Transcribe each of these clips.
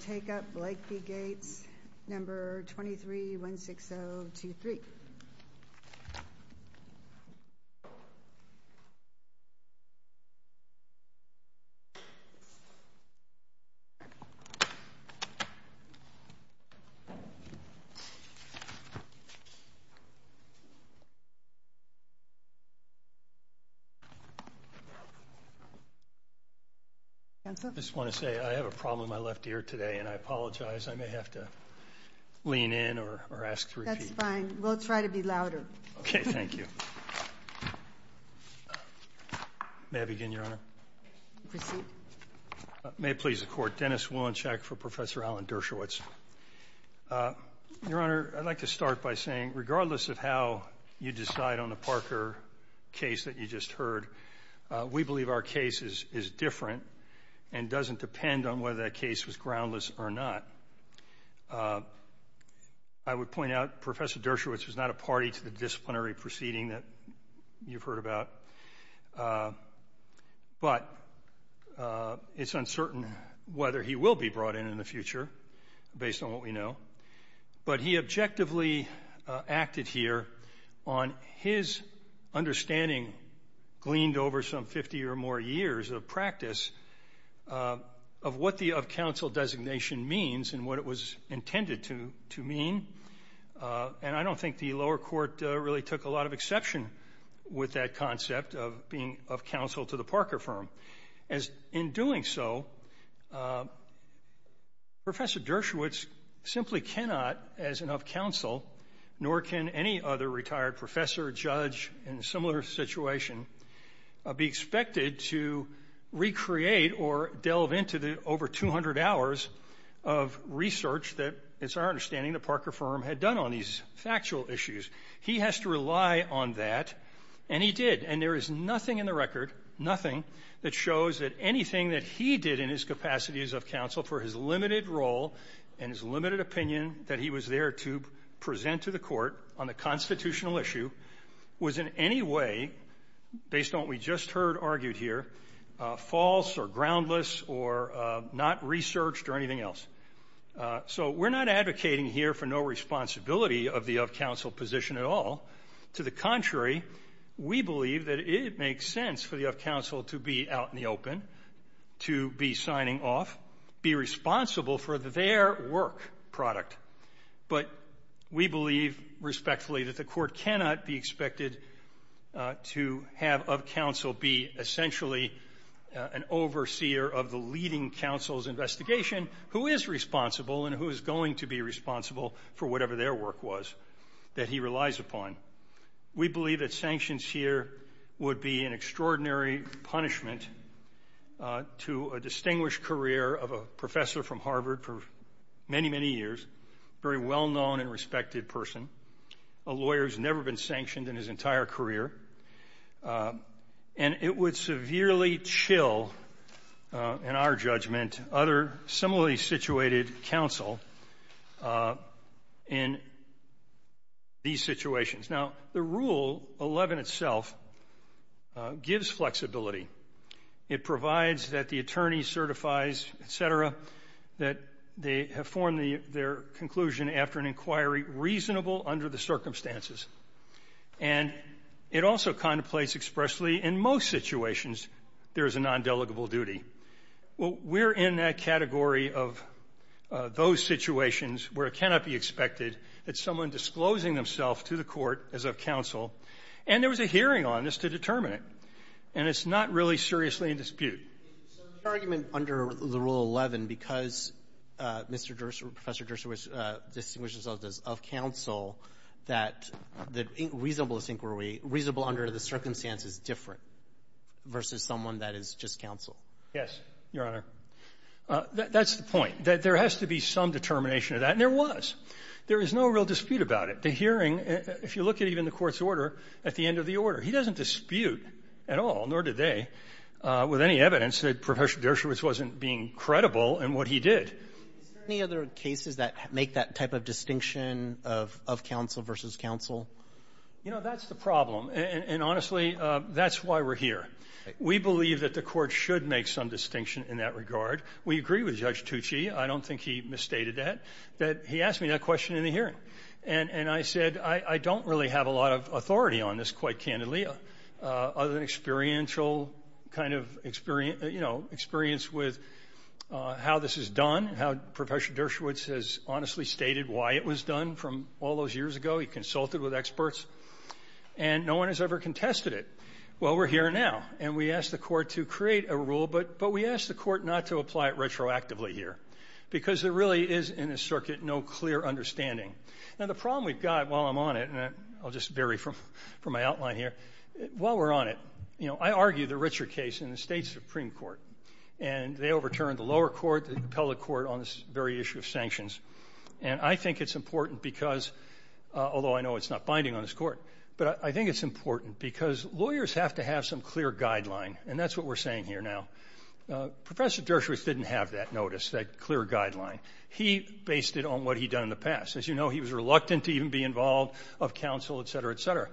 Take up Blake v. Gates, number 23-160-23. I just want to say I have a problem with my left ear today, and I apologize. I may have to lean in or ask to repeat. It's fine. We'll try to be louder. Thank you. May I begin, Your Honor? Proceed. May it please the Court, Dennis Wolinchak for Professor Alan Dershowitz. Your Honor, I'd like to start by saying regardless of how you decide on the Parker case that you just heard, we believe our case is different and doesn't depend on whether that case was groundless or not. I would point out Professor Dershowitz was not a party to the disciplinary proceeding that you've heard about, but it's uncertain whether he will be brought in in the future based on what we know. But he objectively acted here on his understanding gleaned over some 50 or more years of practice of what the of counsel designation means and what it was intended to mean. And I don't think the lower court really took a lot of exception with that concept of being of counsel to the Parker firm. In doing so, Professor Dershowitz simply cannot, as an of counsel, nor can any other retired professor, judge in a similar situation, be expected to recreate or delve into the over 200 hours of research that, it's our understanding, the Parker firm had done on these factual issues. He has to rely on that, and he did. And there is nothing in the record, nothing, that shows that anything that he did in his capacity as of counsel for his limited role and his limited opinion that he was there to present to the court on the constitutional issue was in any way, based on what we just heard argued here, false or groundless or not researched or anything else. So we're not advocating here for no responsibility of the of counsel position at all. To the contrary, we believe that it makes sense for the of counsel to be out in the open, to be signing off, be responsible for their work product. But we believe, respectfully, that the Court cannot be expected to have of counsel be essentially an overseer of the leading counsel's investigation, who is responsible and who is going to be responsible for whatever their work was that he relies upon. We believe that sanctions here would be an extraordinary punishment to a distinguished career of a professor from Harvard for many, many years, very well-known and respected person, a lawyer who's never been sanctioned in his entire career, and it would severely chill, in our judgment, other similarly situated counsel in these situations. Now, the Rule 11 itself gives flexibility. It provides that the attorney certifies, et cetera, that they have formed their conclusion after an inquiry reasonable under the circumstances. And it also contemplates expressly in most situations there is a nondelegable duty. We're in that category of those situations where it cannot be expected that someone disclosing themself to the Court as of counsel, and there was a hearing on this to determine it. And it's not really seriously in dispute. Robertson, so the argument under the Rule 11, because Mr. Dershowitz, Professor Dershowitz distinguishes himself as of counsel, that the reasonableness inquiry, reasonable under the circumstances, is different versus someone that is just counsel? Yes, Your Honor. That's the point, that there has to be some determination of that, and there was. There is no real dispute about it. The hearing, if you look at even the Court's order at the end of the order, he doesn't have any dispute at all, nor did they, with any evidence that Professor Dershowitz wasn't being credible in what he did. Is there any other cases that make that type of distinction of counsel versus counsel? You know, that's the problem. And honestly, that's why we're here. We believe that the Court should make some distinction in that regard. We agree with Judge Tucci. I don't think he misstated that, that he asked me that question in the hearing. And I said, I don't really have a lot of authority on this, quite candidly. Other than experiential kind of experience, you know, experience with how this is done, how Professor Dershowitz has honestly stated why it was done from all those years ago. He consulted with experts, and no one has ever contested it. Well, we're here now. And we asked the Court to create a rule, but we asked the Court not to apply it retroactively here, because there really is, in this circuit, no clear understanding. Now, the problem we've got while I'm on it, and I'll just vary from my outline here. While we're on it, you know, I argue the Richard case in the State Supreme Court. And they overturned the lower court, the appellate court, on this very issue of sanctions. And I think it's important because, although I know it's not binding on this court, but I think it's important because lawyers have to have some clear guideline. And that's what we're saying here now. Professor Dershowitz didn't have that notice, that clear guideline. He based it on what he'd done in the past. As you know, he was reluctant to even be involved of counsel, et cetera, et cetera.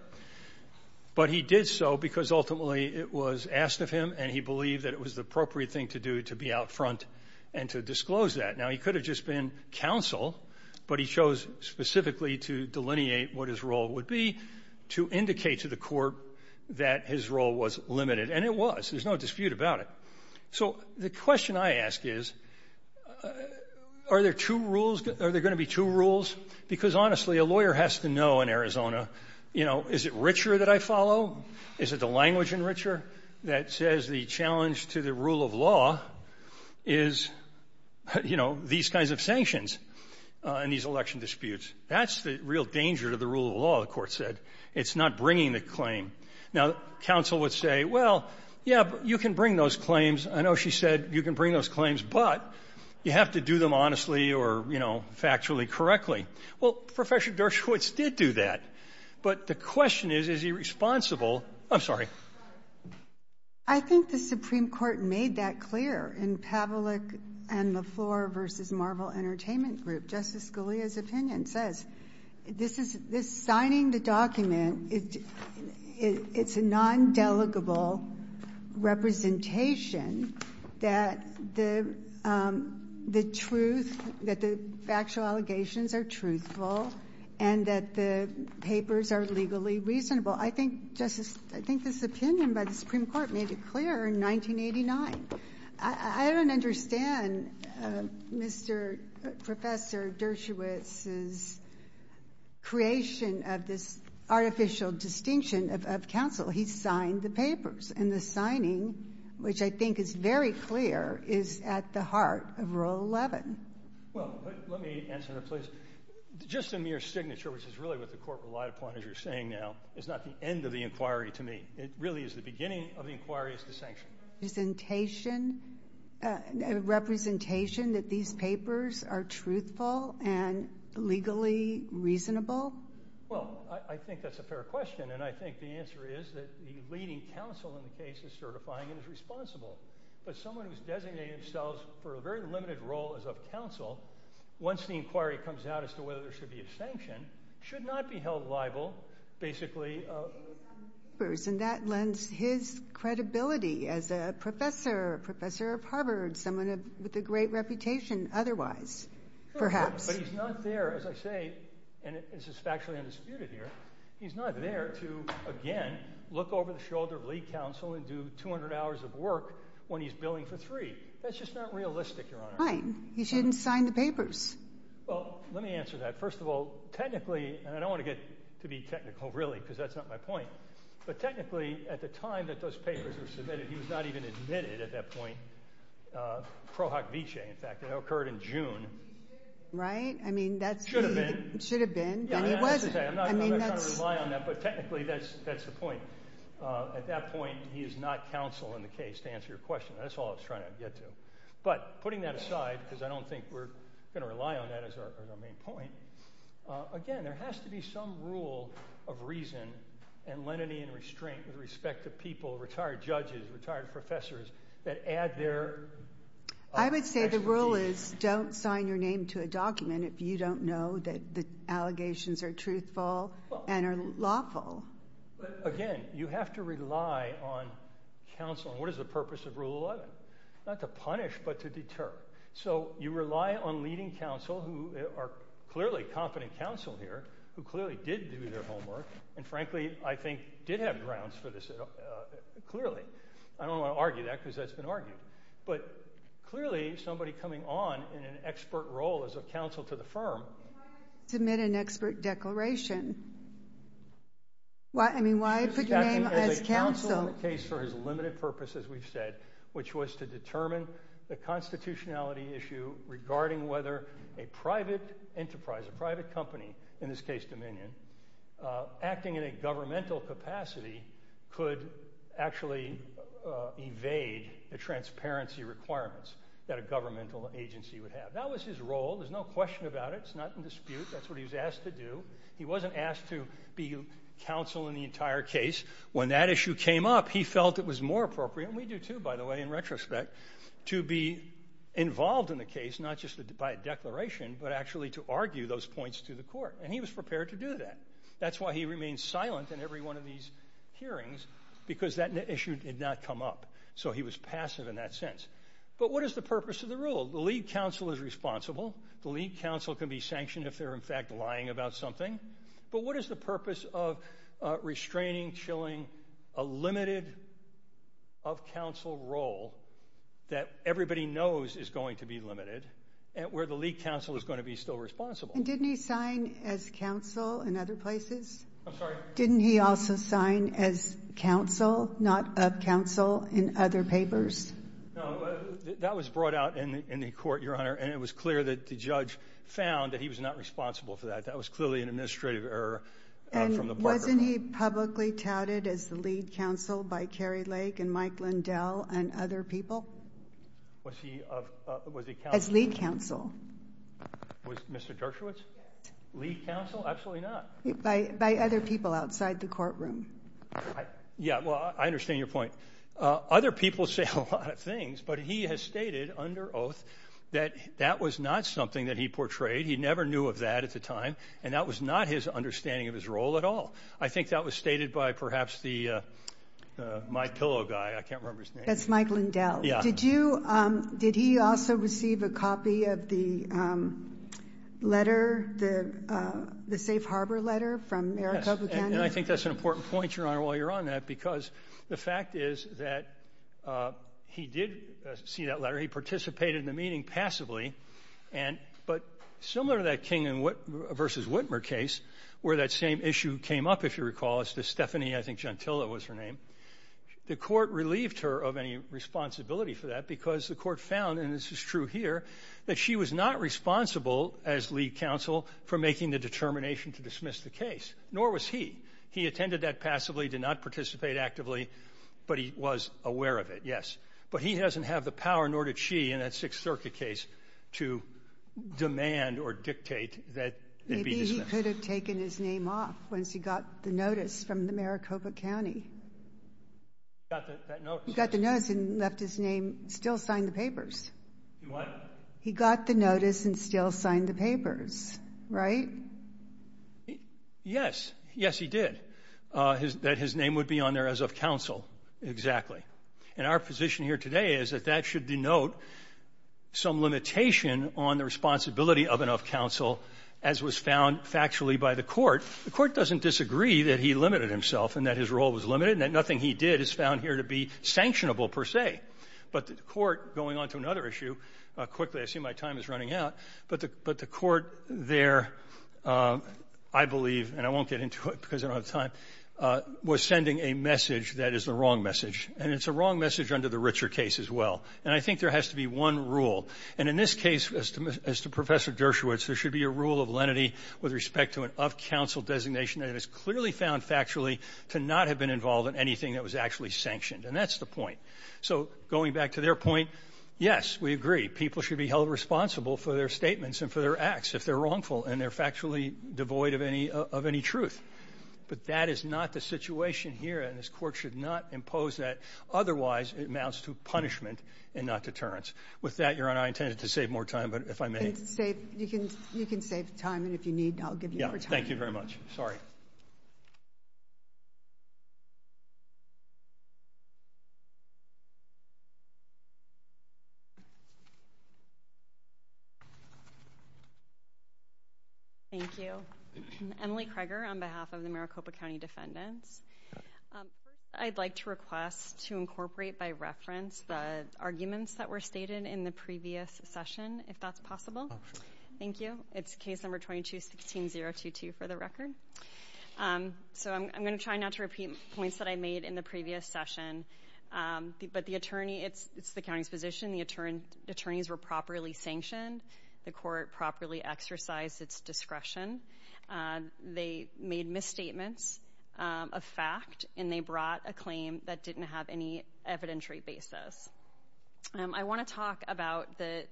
But he did so because, ultimately, it was asked of him, and he believed that it was the appropriate thing to do to be out front and to disclose that. Now, he could have just been counsel, but he chose specifically to delineate what his role would be, to indicate to the Court that his role was limited. And it was. There's no dispute about it. So the question I ask is, are there two rules? Are there going to be two rules? Because, honestly, a lawyer has to know in Arizona, you know, is it richer that I follow? Is it the language in richer that says the challenge to the rule of law is, you know, these kinds of sanctions in these election disputes? That's the real danger to the rule of law, the Court said. It's not bringing the claim. Now, counsel would say, well, yeah, but you can bring those claims. I know she said you can bring those claims, but you have to do them honestly or, you know, factually correctly. Well, Professor Dershowitz did do that. But the question is, is he responsible? I'm sorry. I think the Supreme Court made that clear in Pavlik and LeFleur v. Marvel Entertainment Group. Justice Scalia's opinion says, this signing the document, it's a non-delegable representation that the truth, that the factual allegations are truthful and that the papers are legally reasonable. I think, Justice, I think this opinion by the Supreme Court made it clear in 1989. I don't understand Mr. Professor Dershowitz's creation of this artificial distinction of counsel. He signed the papers. And the signing, which I think is very clear, is at the heart of Rule 11. Well, let me answer that, please. Just a mere signature, which is really what the Court relied upon, as you're saying now, is not the end of the inquiry to me. It really is the beginning of the inquiry as to sanction. Representation, representation that these papers are truthful and legally reasonable? Well, I think that's a fair question. And I think the answer is that the leading counsel in the case is certifying and is responsible. But someone who's designated themselves for a very limited role as of counsel, once the inquiry comes out as to whether there should be a sanction, should not be held liable, basically. And that lends his credibility as a professor, a professor of Harvard, someone with a great reputation otherwise, perhaps. But he's not there, as I say, and this is factually undisputed here, he's not there to, again, look over the shoulder of lead counsel and do 200 hours of work when he's billing for three. That's just not realistic, Your Honor. Fine. He shouldn't sign the papers. Well, let me answer that. First of all, technically, and I don't want to get to be technical, really, because that's not my point. But technically, at the time that those papers were submitted, he was not even admitted at that point. Krohak-Vice, in fact, that occurred in June. Right? I mean, that's the- Should have been. Then he wasn't. Yeah, I'm not trying to rely on that, but technically, that's the point. At that point, he is not counsel in the case, to answer your question. That's all I was trying to get to. But putting that aside, because I don't think we're going to rely on that as our main point, again, there has to be some rule of reason and lenity and restraint with respect to people, retired judges, retired professors, that add their specialties. I would say the rule is don't sign your name to a document if you don't know that the allegations are truthful and are lawful. But again, you have to rely on counsel. And what is the purpose of Rule 11? Not to punish, but to deter. So you rely on leading counsel, who are clearly competent counsel here, who clearly did do their homework, and frankly, I think, did have grounds for this, clearly. I don't want to argue that, because that's been argued. But clearly, somebody coming on in an expert role as a counsel to the firm- Submit an expert declaration. Why, I mean, why put your name as counsel? As a counsel in the case for his limited purpose, as we've said, which was to determine the constitutionality issue regarding whether a private enterprise, a private company, in this case, Dominion, acting in a governmental capacity could actually evade the transparency requirements that a governmental agency would have. That was his role. There's no question about it. It's not in dispute. That's what he was asked to do. He wasn't asked to be counsel in the entire case. When that issue came up, he felt it was more appropriate, and we do too, by the way, in retrospect, to be involved in the case, not just by a declaration, but actually to argue those points to the court. And he was prepared to do that. That's why he remained silent in every one of these hearings, because that issue did not come up. So he was passive in that sense. But what is the purpose of the rule? The lead counsel is responsible. The lead counsel can be sanctioned if they're, in fact, lying about something. But what is the purpose of restraining, chilling, a limited of counsel role that everybody knows is going to be limited, where the lead counsel is going to be still responsible? And didn't he sign as counsel in other places? I'm sorry? Didn't he also sign as counsel, not of counsel, in other papers? No, that was brought out in the court, Your Honor, and it was clear that the judge found that he was not responsible for that. That was clearly an administrative error from the Barker group. And wasn't he publicly touted as the lead counsel by Kerry Lake and Mike Lindell and other people? Was he of, was he counsel? As lead counsel. Was Mr. Dershowitz lead counsel? Absolutely not. By other people outside the courtroom. Yeah, well, I understand your point. Other people say a lot of things, but he has stated under oath that that was not something that he portrayed. He never knew of that at the time, and that was not his understanding of his role at all. I think that was stated by perhaps the, my pillow guy, I can't remember his name. That's Mike Lindell. Yeah. Did you, did he also receive a copy of the letter, the safe harbor letter from Maricopa County? And I think that's an important point, Your Honor, while you're on that, because the fact is that he did see that letter. He participated in the meeting passively. And, but similar to that King v. Whitmer case where that same issue came up, if you recall, as to Stephanie, I think, Gentile was her name. The court relieved her of any responsibility for that because the court found, and this is true here, that she was not responsible as lead counsel for making the determination to dismiss the case, nor was he. He attended that passively, did not participate actively, but he was aware of it, yes. But he doesn't have the power, nor did she, in that Sixth Circuit case, to demand or dictate that it be dismissed. Maybe he could have taken his name off once he got the notice from the Maricopa County. He got that notice. He got the notice and left his name, still signed the papers. He what? He got the notice and still signed the papers, right? Yes. Yes, he did. That his name would be on there as of counsel, exactly. And our position here today is that that should denote some limitation on the responsibility of and of counsel as was found factually by the court. The court doesn't disagree that he limited himself and that his role was limited and that nothing he did is found here to be sanctionable, per se. But the court, going on to another issue, quickly, I see my time is running out, but the court there, I believe, and I won't get into it because I don't have time, was sending a message that is the wrong message. And it's a wrong message under the Ritzer case as well. And I think there has to be one rule. And in this case, as to Professor Dershowitz, there should be a rule of lenity with respect to an of-counsel designation that is clearly found factually to not have been involved in anything that was actually sanctioned, and that's the point. So going back to their point, yes, we agree. People should be held responsible for their statements and for their acts if they're wrongful and they're factually devoid of any truth. But that is not the situation here, and this court should not impose that. Otherwise, it amounts to punishment and not deterrence. With that, Your Honor, I intended to save more time, but if I may. You can save time, and if you need, I'll give you more time. Yeah, thank you very much. Sorry. Thank you. Emily Kreger on behalf of the Maricopa County Defendants. I'd like to request to incorporate by reference the arguments that were stated in the previous session, if that's possible. Thank you. It's case number 22-16022 for the record. So I'm going to try not to repeat points that I made in the previous session, but the attorney, it's the county's position, the attorneys were properly sanctioned. The court properly exercised its discretion. They made misstatements of fact, and they brought a claim that didn't have any evidentiary basis. I want to talk about the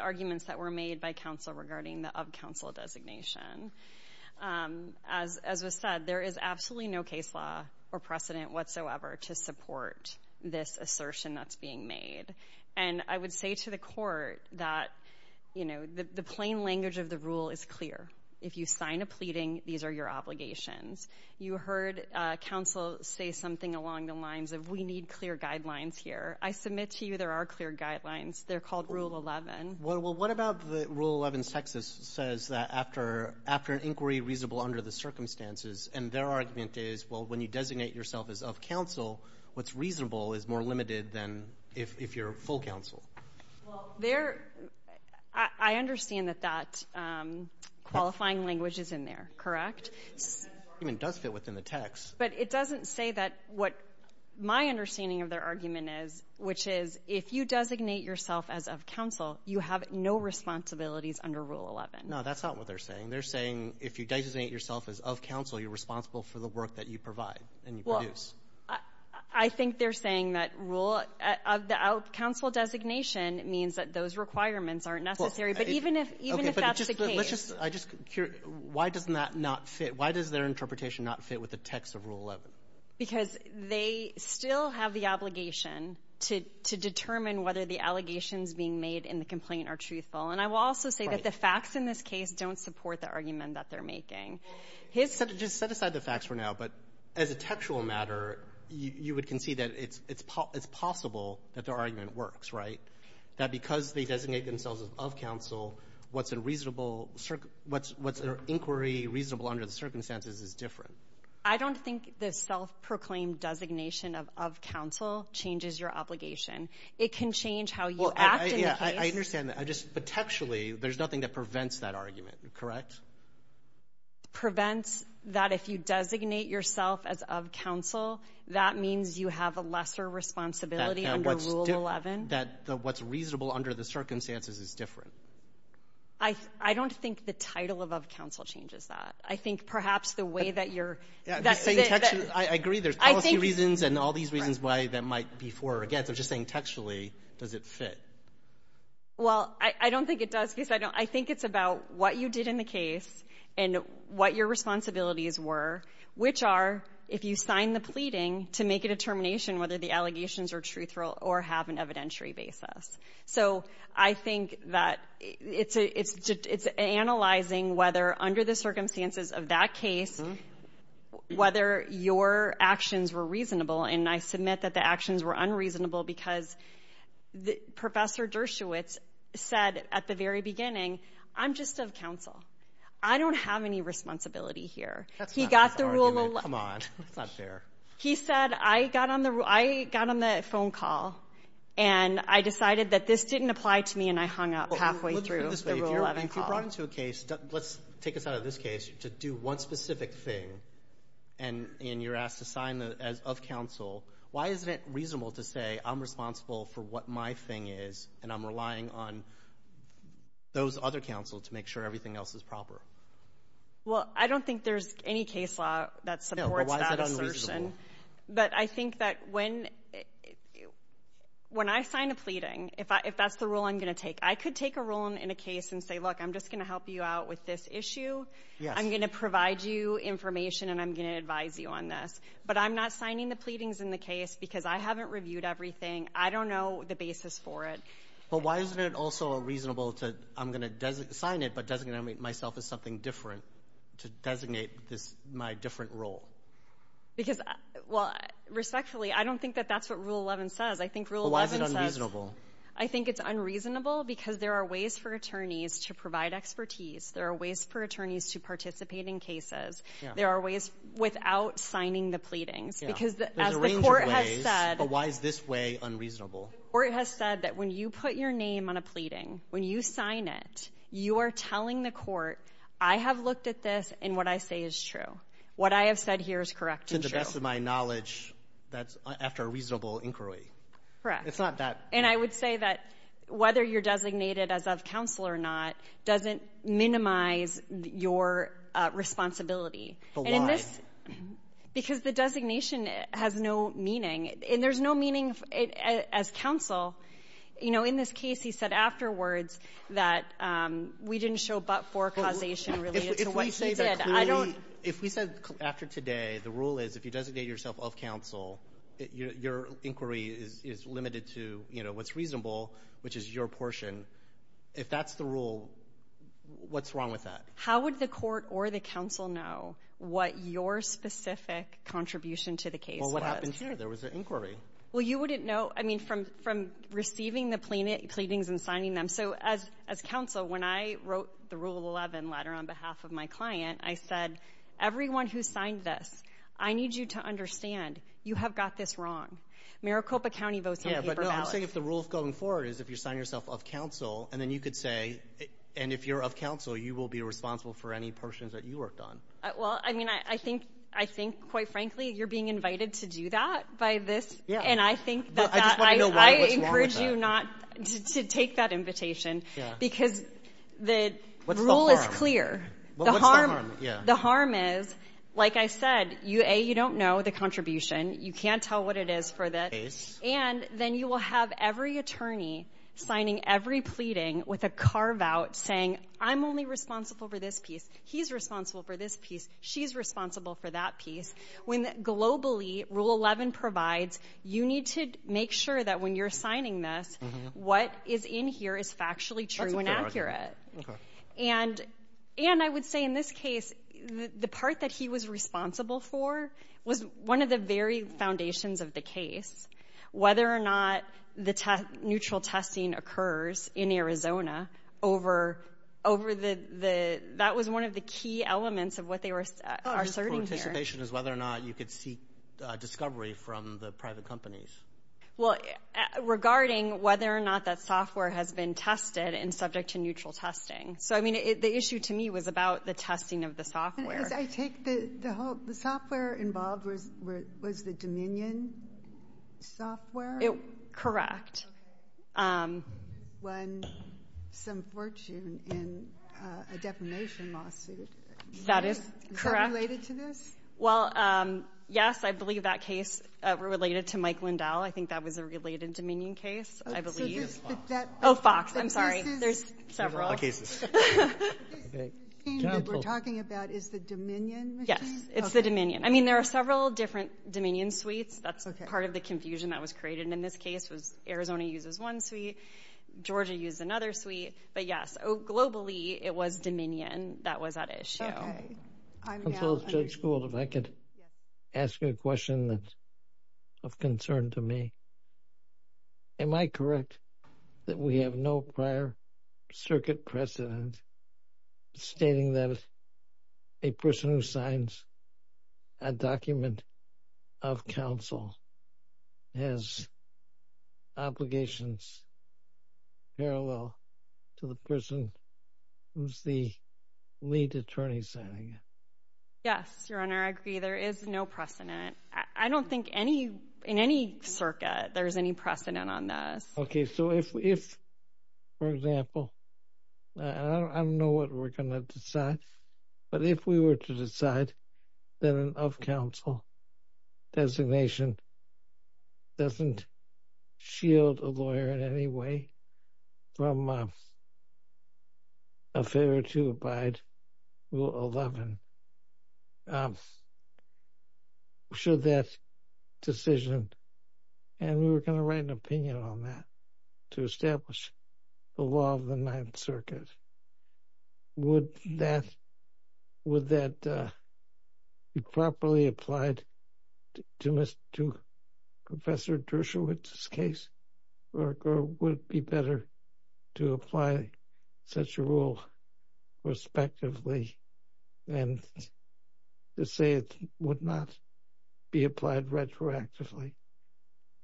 arguments that were made by counsel regarding the of counsel designation. As was said, there is absolutely no case law or precedent whatsoever to support this assertion that's being made. And I would say to the court that the plain language of the rule is clear. If you sign a pleading, these are your obligations. You heard counsel say something along the lines of, we need clear guidelines here. I submit to you there are clear guidelines. They're called Rule 11. Well, what about the Rule 11's text that says that after an inquiry reasonable under the circumstances, and their argument is, well, when you designate yourself as of counsel, what's reasonable is more limited than if you're full counsel. Well, there, I understand that that qualifying language is in there, correct? It does fit within the text. But it doesn't say that what my understanding of their argument is, which is, if you designate yourself as of counsel, you have no responsibilities under Rule 11. No, that's not what they're saying. They're saying, if you designate yourself as of counsel, you're responsible for the work that you provide and you produce. I think they're saying that rule of the counsel designation means that those requirements aren't necessary. But even if that's the case. I'm just curious, why does that not fit? Why does their interpretation not fit with the text of Rule 11? Because they still have the obligation to determine whether the allegations being made in the complaint are truthful. And I will also say that the facts in this case don't support the argument that they're making. Well, just set aside the facts for now. But as a textual matter, you would concede that it's possible that their argument works, right? That because they designate themselves as of counsel, what's their inquiry reasonable under the circumstances is different. I don't think the self-proclaimed designation of counsel changes your obligation. It can change how you act in the case. Yeah, I understand that. But textually, there's nothing that prevents that argument, correct? Prevents that if you designate yourself as of counsel, that means you have a lesser responsibility under Rule 11. That what's reasonable under the circumstances is different. I don't think the title of of counsel changes that. I think perhaps the way that you're that's the. I agree there's policy reasons and all these reasons why that might be for or against. I'm just saying textually, does it fit? Well, I don't think it does because I don't I think it's about what you did in the case and what your responsibilities were, which are if you sign the pleading to make a determination whether the allegations are truthful or have an evidentiary basis. So I think that it's it's it's analyzing whether under the circumstances of that case, whether your actions were reasonable. And I submit that the actions were unreasonable because the Professor Dershowitz said at the very beginning, I'm just of counsel. I don't have any responsibility here. He got the rule. Come on. That's not fair. He said, I got on the I got on the phone call and I decided that this didn't apply to me and I hung up halfway through the Rule 11 call. If you brought into a case, let's take us out of this case to do one specific thing and you're asked to sign as of counsel. Why is it reasonable to say I'm responsible for what my thing is and I'm relying on those other counsel to make sure everything else is proper? Well, I don't think there's any case law that supports that assertion. But I think that when when I sign a pleading, if that's the rule I'm going to take, I could take a role in a case and say, look, I'm just going to help you out with this issue. I'm going to provide you information and I'm going to advise you on this. But I'm not signing the pleadings in the case because I haven't reviewed everything. I don't know the basis for it. But why isn't it also reasonable to I'm going to sign it but designate myself as something different to designate this my different role? Because, well, respectfully, I don't think that that's what Rule 11 says. I think Rule 11 says. I think it's unreasonable because there are ways for attorneys to provide expertise. There are ways for attorneys to participate in cases. There are ways without signing the pleadings because the court has said, why is this way unreasonable? Or it has said that when you put your name on a pleading, when you sign it, you are telling the court, I have looked at this and what I say is true. What I have said here is correct and to the best of my knowledge, that's after a reasonable inquiry. It's not that. And I would say that whether you're designated as of counsel or not doesn't minimize your responsibility. But why? And in this because the designation has no meaning and there's no meaning as counsel. You know, in this case, he said afterwards that we didn't show but for causation related to what they did. I don't. If we say that clearly, if we said after today, the rule is if you designate yourself of counsel, your inquiry is limited to, you know, what's reasonable, which is your portion. If that's the rule, what's wrong with that? How would the court or the counsel know what your specific contribution to the case was? Well, what happened here? There was an inquiry. Well, you wouldn't know. I mean, from receiving the pleadings and signing them. So as counsel, when I wrote the Rule 11 letter on behalf of my client, I said, everyone who signed this, I need you to understand you have got this wrong. Maricopa County votes on paper ballots. Yeah, but I'm saying if the rule of going forward is if you sign yourself of counsel and then you could say, and if you're of counsel, you will be responsible for any portions that you worked on. Well, I mean, I think, I think quite frankly, you're being invited to do that by this. And I think that I encourage you not to take that invitation because the rule is clear. What's the harm? The harm is, like I said, A, you don't know the contribution. You can't tell what it is for the case. And then you will have every attorney signing every pleading with a carve out saying, I'm only responsible for this piece. He's responsible for this piece. She's responsible for that piece. When globally Rule 11 provides, you need to make sure that when you're signing this, what is in here is factually true and accurate. And, and I would say in this case, the part that he was responsible for was one of the very foundations of the case, whether or not the neutral testing occurs in Arizona over over the, the, that was one of the key elements of what they were asserting here. Participation is whether or not you could seek discovery from the private companies. Well, regarding whether or not that software has been tested and subject to neutral testing. So I mean, the issue to me was about the testing of the software. I take the whole, the software involved was, was the Dominion software? Correct. Okay. Won some fortune in a defamation lawsuit. That is correct. Is that related to this? Well, um, yes, I believe that case related to Mike Lindell. I think that was a related Dominion case, I believe. Oh, Fox. I'm sorry. There's several cases. Okay. We're talking about is the Dominion. Yes. It's the Dominion. I mean, there are several different Dominion suites. That's part of the confusion that was created in this case was Arizona uses one suite, Georgia used another suite, but yes, globally it was Dominion that was at issue. Counsel Judge Gould, if I could ask you a question that of concern to me, am I correct that we have no prior circuit precedent stating that a person who signs a document of counsel has obligations parallel to the person who's the lead attorney signing it? Yes, Your Honor. I agree. There is no precedent. I don't think any, in any circuit, there's any precedent on this. Okay. So if, if, for example, I don't know what we're going to decide, but if we were to decide that an of-counsel designation doesn't shield a lawyer in any way from a failure to abide Rule 11, should that decision, and we were going to write an opinion on that to establish the law of the Ninth Circuit, would that, would that be properly applied to Mr., to Professor Dershowitz's case? Or would it be better to apply such a rule respectively than to say it would not be applied retroactively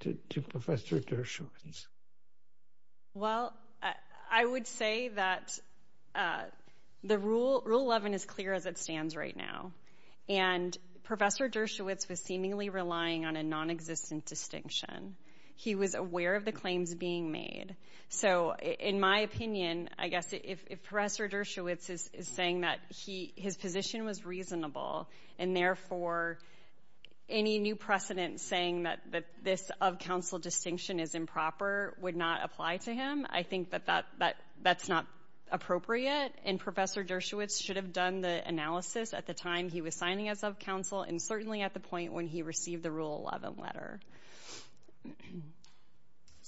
to Professor Dershowitz? Well, I would say that the rule, Rule 11 is clear as it stands right now. And Professor Dershowitz was seemingly relying on a nonexistent distinction. He was aware of the claims being made. So in my opinion, I guess if Professor Dershowitz is saying that he, his position was reasonable and therefore any new precedent saying that this of-counsel distinction is improper would not apply to him, I think that that's not appropriate. And Professor Dershowitz should have done the analysis at the time he was signing as of-counsel and certainly at the point when he received the Rule 11 letter.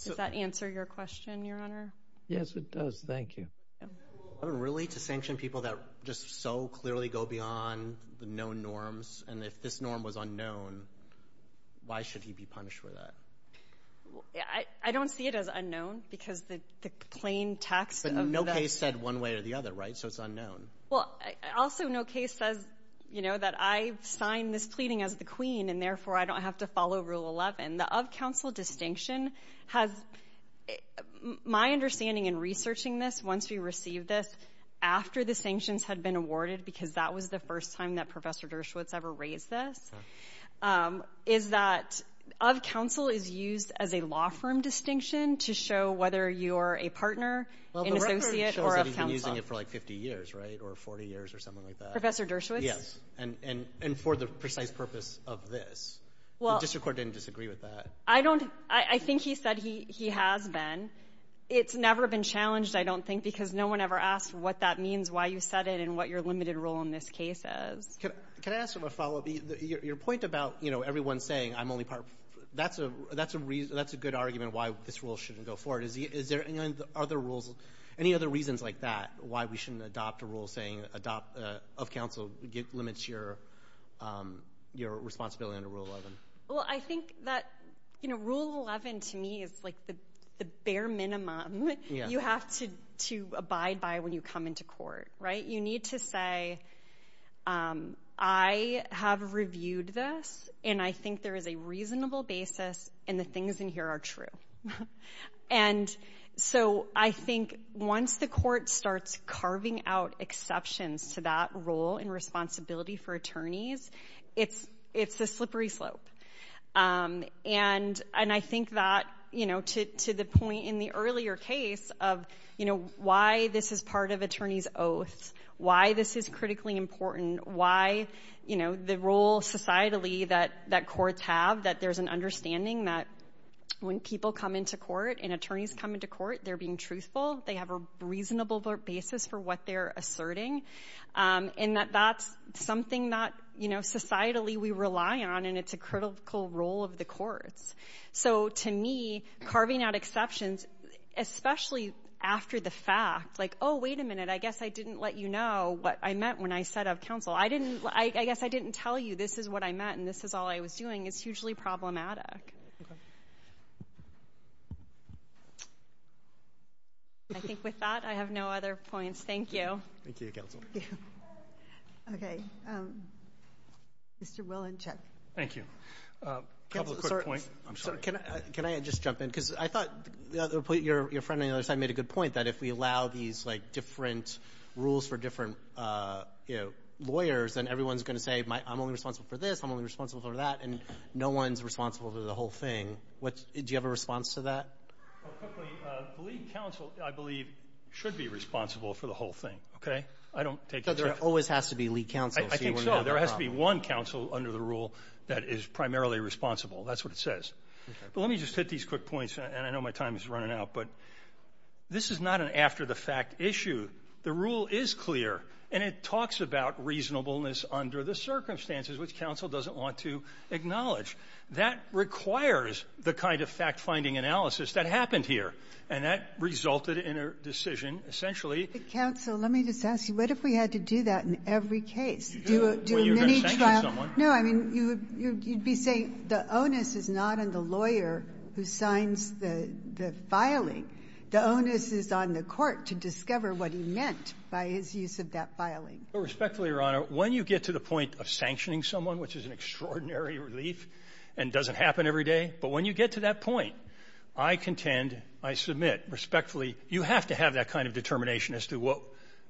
Does that answer your question, Your Honor? Yes, it does. Thank you. Rule 11 really to sanction people that just so clearly go beyond the known norms? And if this norm was unknown, why should he be punished for that? I don't see it as unknown because the plain text of that — But no case said one way or the other, right? So it's unknown. Well, also no case says, you know, that I've signed this pleading as the Queen and therefore I don't have to follow Rule 11. The of-counsel distinction has — my understanding in researching this once we received this after the sanctions had been awarded, because that was the first time that Professor Dershowitz ever raised this, is that of-counsel is used as a law firm distinction to show whether you are a partner, an associate, or of-counsel. Well, the record shows that he's been using it for like 50 years, right? Or 40 years or something like that. Professor Dershowitz? Yes. And for the precise purpose of this. Well — The district court didn't disagree with that. I don't — I think he said he has been. It's never been challenged, I don't think, because no one ever asked what that means, why you set it, and what your limited role in this case is. Can I ask a follow-up? Your point about, you know, everyone saying I'm only part — that's a good argument why this rule shouldn't go forward. Is there any other rules, any other reasons like that, why we shouldn't adopt a rule saying of-counsel limits your responsibility under Rule 11? Well, I think that, you know, Rule 11 to me is like the bare minimum you have to abide by when you come into court, right? You need to say, I have reviewed this, and I think there is a reasonable basis, and the things in here are true. And so I think once the court starts carving out exceptions to that rule and responsibility for attorneys, it's a slippery slope. And I think that, you know, to the point in the earlier case of, you know, why this is part of attorneys' oaths, why this is critically important, why, you know, the role societally that courts have, that there's an understanding that when people come into court and attorneys come into court, they're being truthful, they have a reasonable basis for what they're asserting, and that that's something that, you know, societally we rely on, and it's a critical role of the courts. So to me, carving out exceptions, especially after the fact, like, oh, wait a minute, I guess I didn't let you know what I meant when I said of-counsel. I didn't, I guess I didn't tell you this is what I meant and this is all I was doing is hugely problematic. I think with that, I have no other points. Thank you. Thank you, Counsel. Okay. Mr. Will and Chuck. Thank you. A couple of quick points. I'm sorry. Can I just jump in? Because I thought your friend on the other side made a good point that if we allow these like different rules for different, you know, lawyers, then everyone's going to say, I'm only responsible for this, I'm only responsible for that, and no one's responsible for the whole thing. Do you have a response to that? Quickly, the lead counsel, I believe, should be responsible for the whole thing. Okay? I don't take it. So there always has to be lead counsel. I think so. There has to be one counsel under the rule that is primarily responsible. That's what it says. Okay. But let me just hit these quick points, and I know my time is running out, but this is not an after-the-fact issue. The rule is clear, and it talks about reasonableness under the circumstances, which counsel doesn't want to acknowledge. That requires the kind of fact-finding analysis that happened here, and that resulted in a decision essentially to do a mini-trial. Counsel, let me just ask you, what if we had to do that in every case? Well, you're going to sanction someone. No. I mean, you would be saying the onus is not on the lawyer who signs the filing. The onus is on the court to discover what he meant by his use of that filing. Well, respectfully, Your Honor, when you get to the point of sanctioning someone, which is an extraordinary relief and doesn't happen every day, but when you get to that point, I contend, I submit, respectfully, you have to have that kind of determination as to what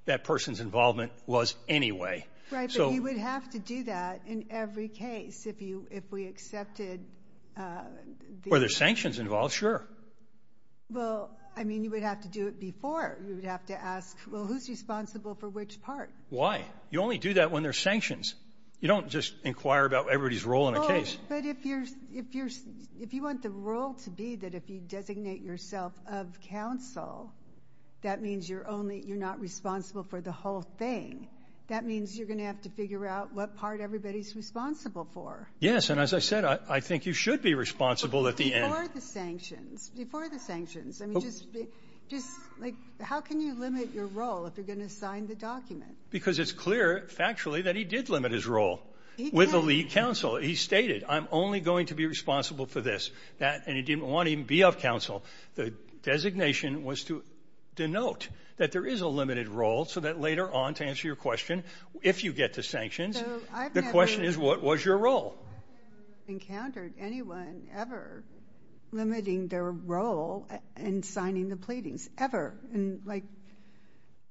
that person's involvement was anyway. Right. But you would have to do that in every case if we accepted the ---- Were there sanctions involved? Sure. Well, I mean, you would have to do it before. You would have to ask, well, who's responsible for which part? Why? You only do that when there's sanctions. You don't just inquire about everybody's role in a case. Well, but if you're ---- if you want the role to be that if you designate yourself of counsel, that means you're only ---- you're not responsible for the whole thing. That means you're going to have to figure out what part everybody's responsible for. Yes. And as I said, I think you should be responsible at the end. Before the sanctions. Before the sanctions. I mean, just, like, how can you limit your role if you're going to sign the document? Because it's clear, factually, that he did limit his role with the lead counsel. He stated, I'm only going to be responsible for this. That ---- and he didn't want to even be of counsel. The designation was to denote that there is a limited role so that later on, to answer your question, if you get to sanctions, the question is, what was your role? I haven't encountered anyone ever limiting their role in signing the pleadings. Ever. In, like,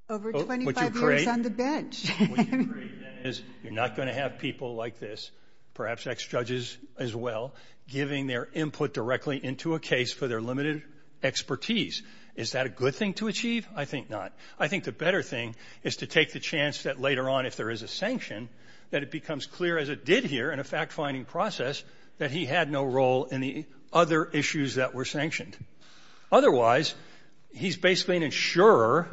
over 25 years on the bench. What you create then is you're not going to have people like this, perhaps ex-judges as well, giving their input directly into a case for their limited expertise. Is that a good thing to achieve? I think not. I think the better thing is to take the chance that later on, if there is a sanction, that it becomes clear, as it did here in a fact-finding process, that he had no role in the other issues that were sanctioned. Otherwise, he's basically an insurer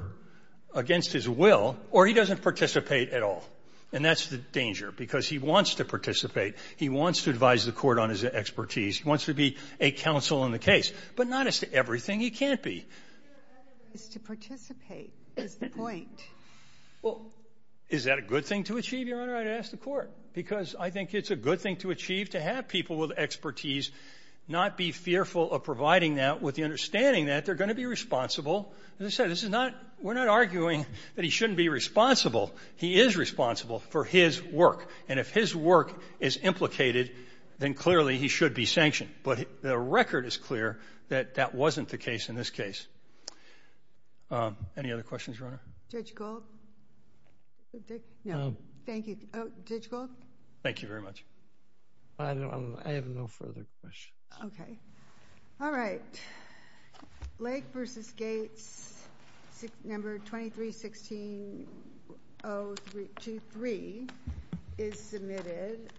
against his will, or he doesn't participate at all. And that's the danger, because he wants to participate. He wants to advise the Court on his expertise. He wants to be a counsel in the case. But not as to everything. He can't be. It's to participate is the point. Well, is that a good thing to achieve, Your Honor? I'd ask the Court. Because I think it's a good thing to achieve to have people with expertise not be fearful of providing that with the understanding that they're going to be responsible. As I said, this is not we're not arguing that he shouldn't be responsible. He is responsible for his work. And if his work is implicated, then clearly he should be sanctioned. But the record is clear that that wasn't the case in this case. Any other questions, Your Honor? Judge Gold? No. Thank you. Judge Gold? Thank you very much. I have no further questions. Okay. All right. Lake v. Gates, Number 2316-023 is submitted.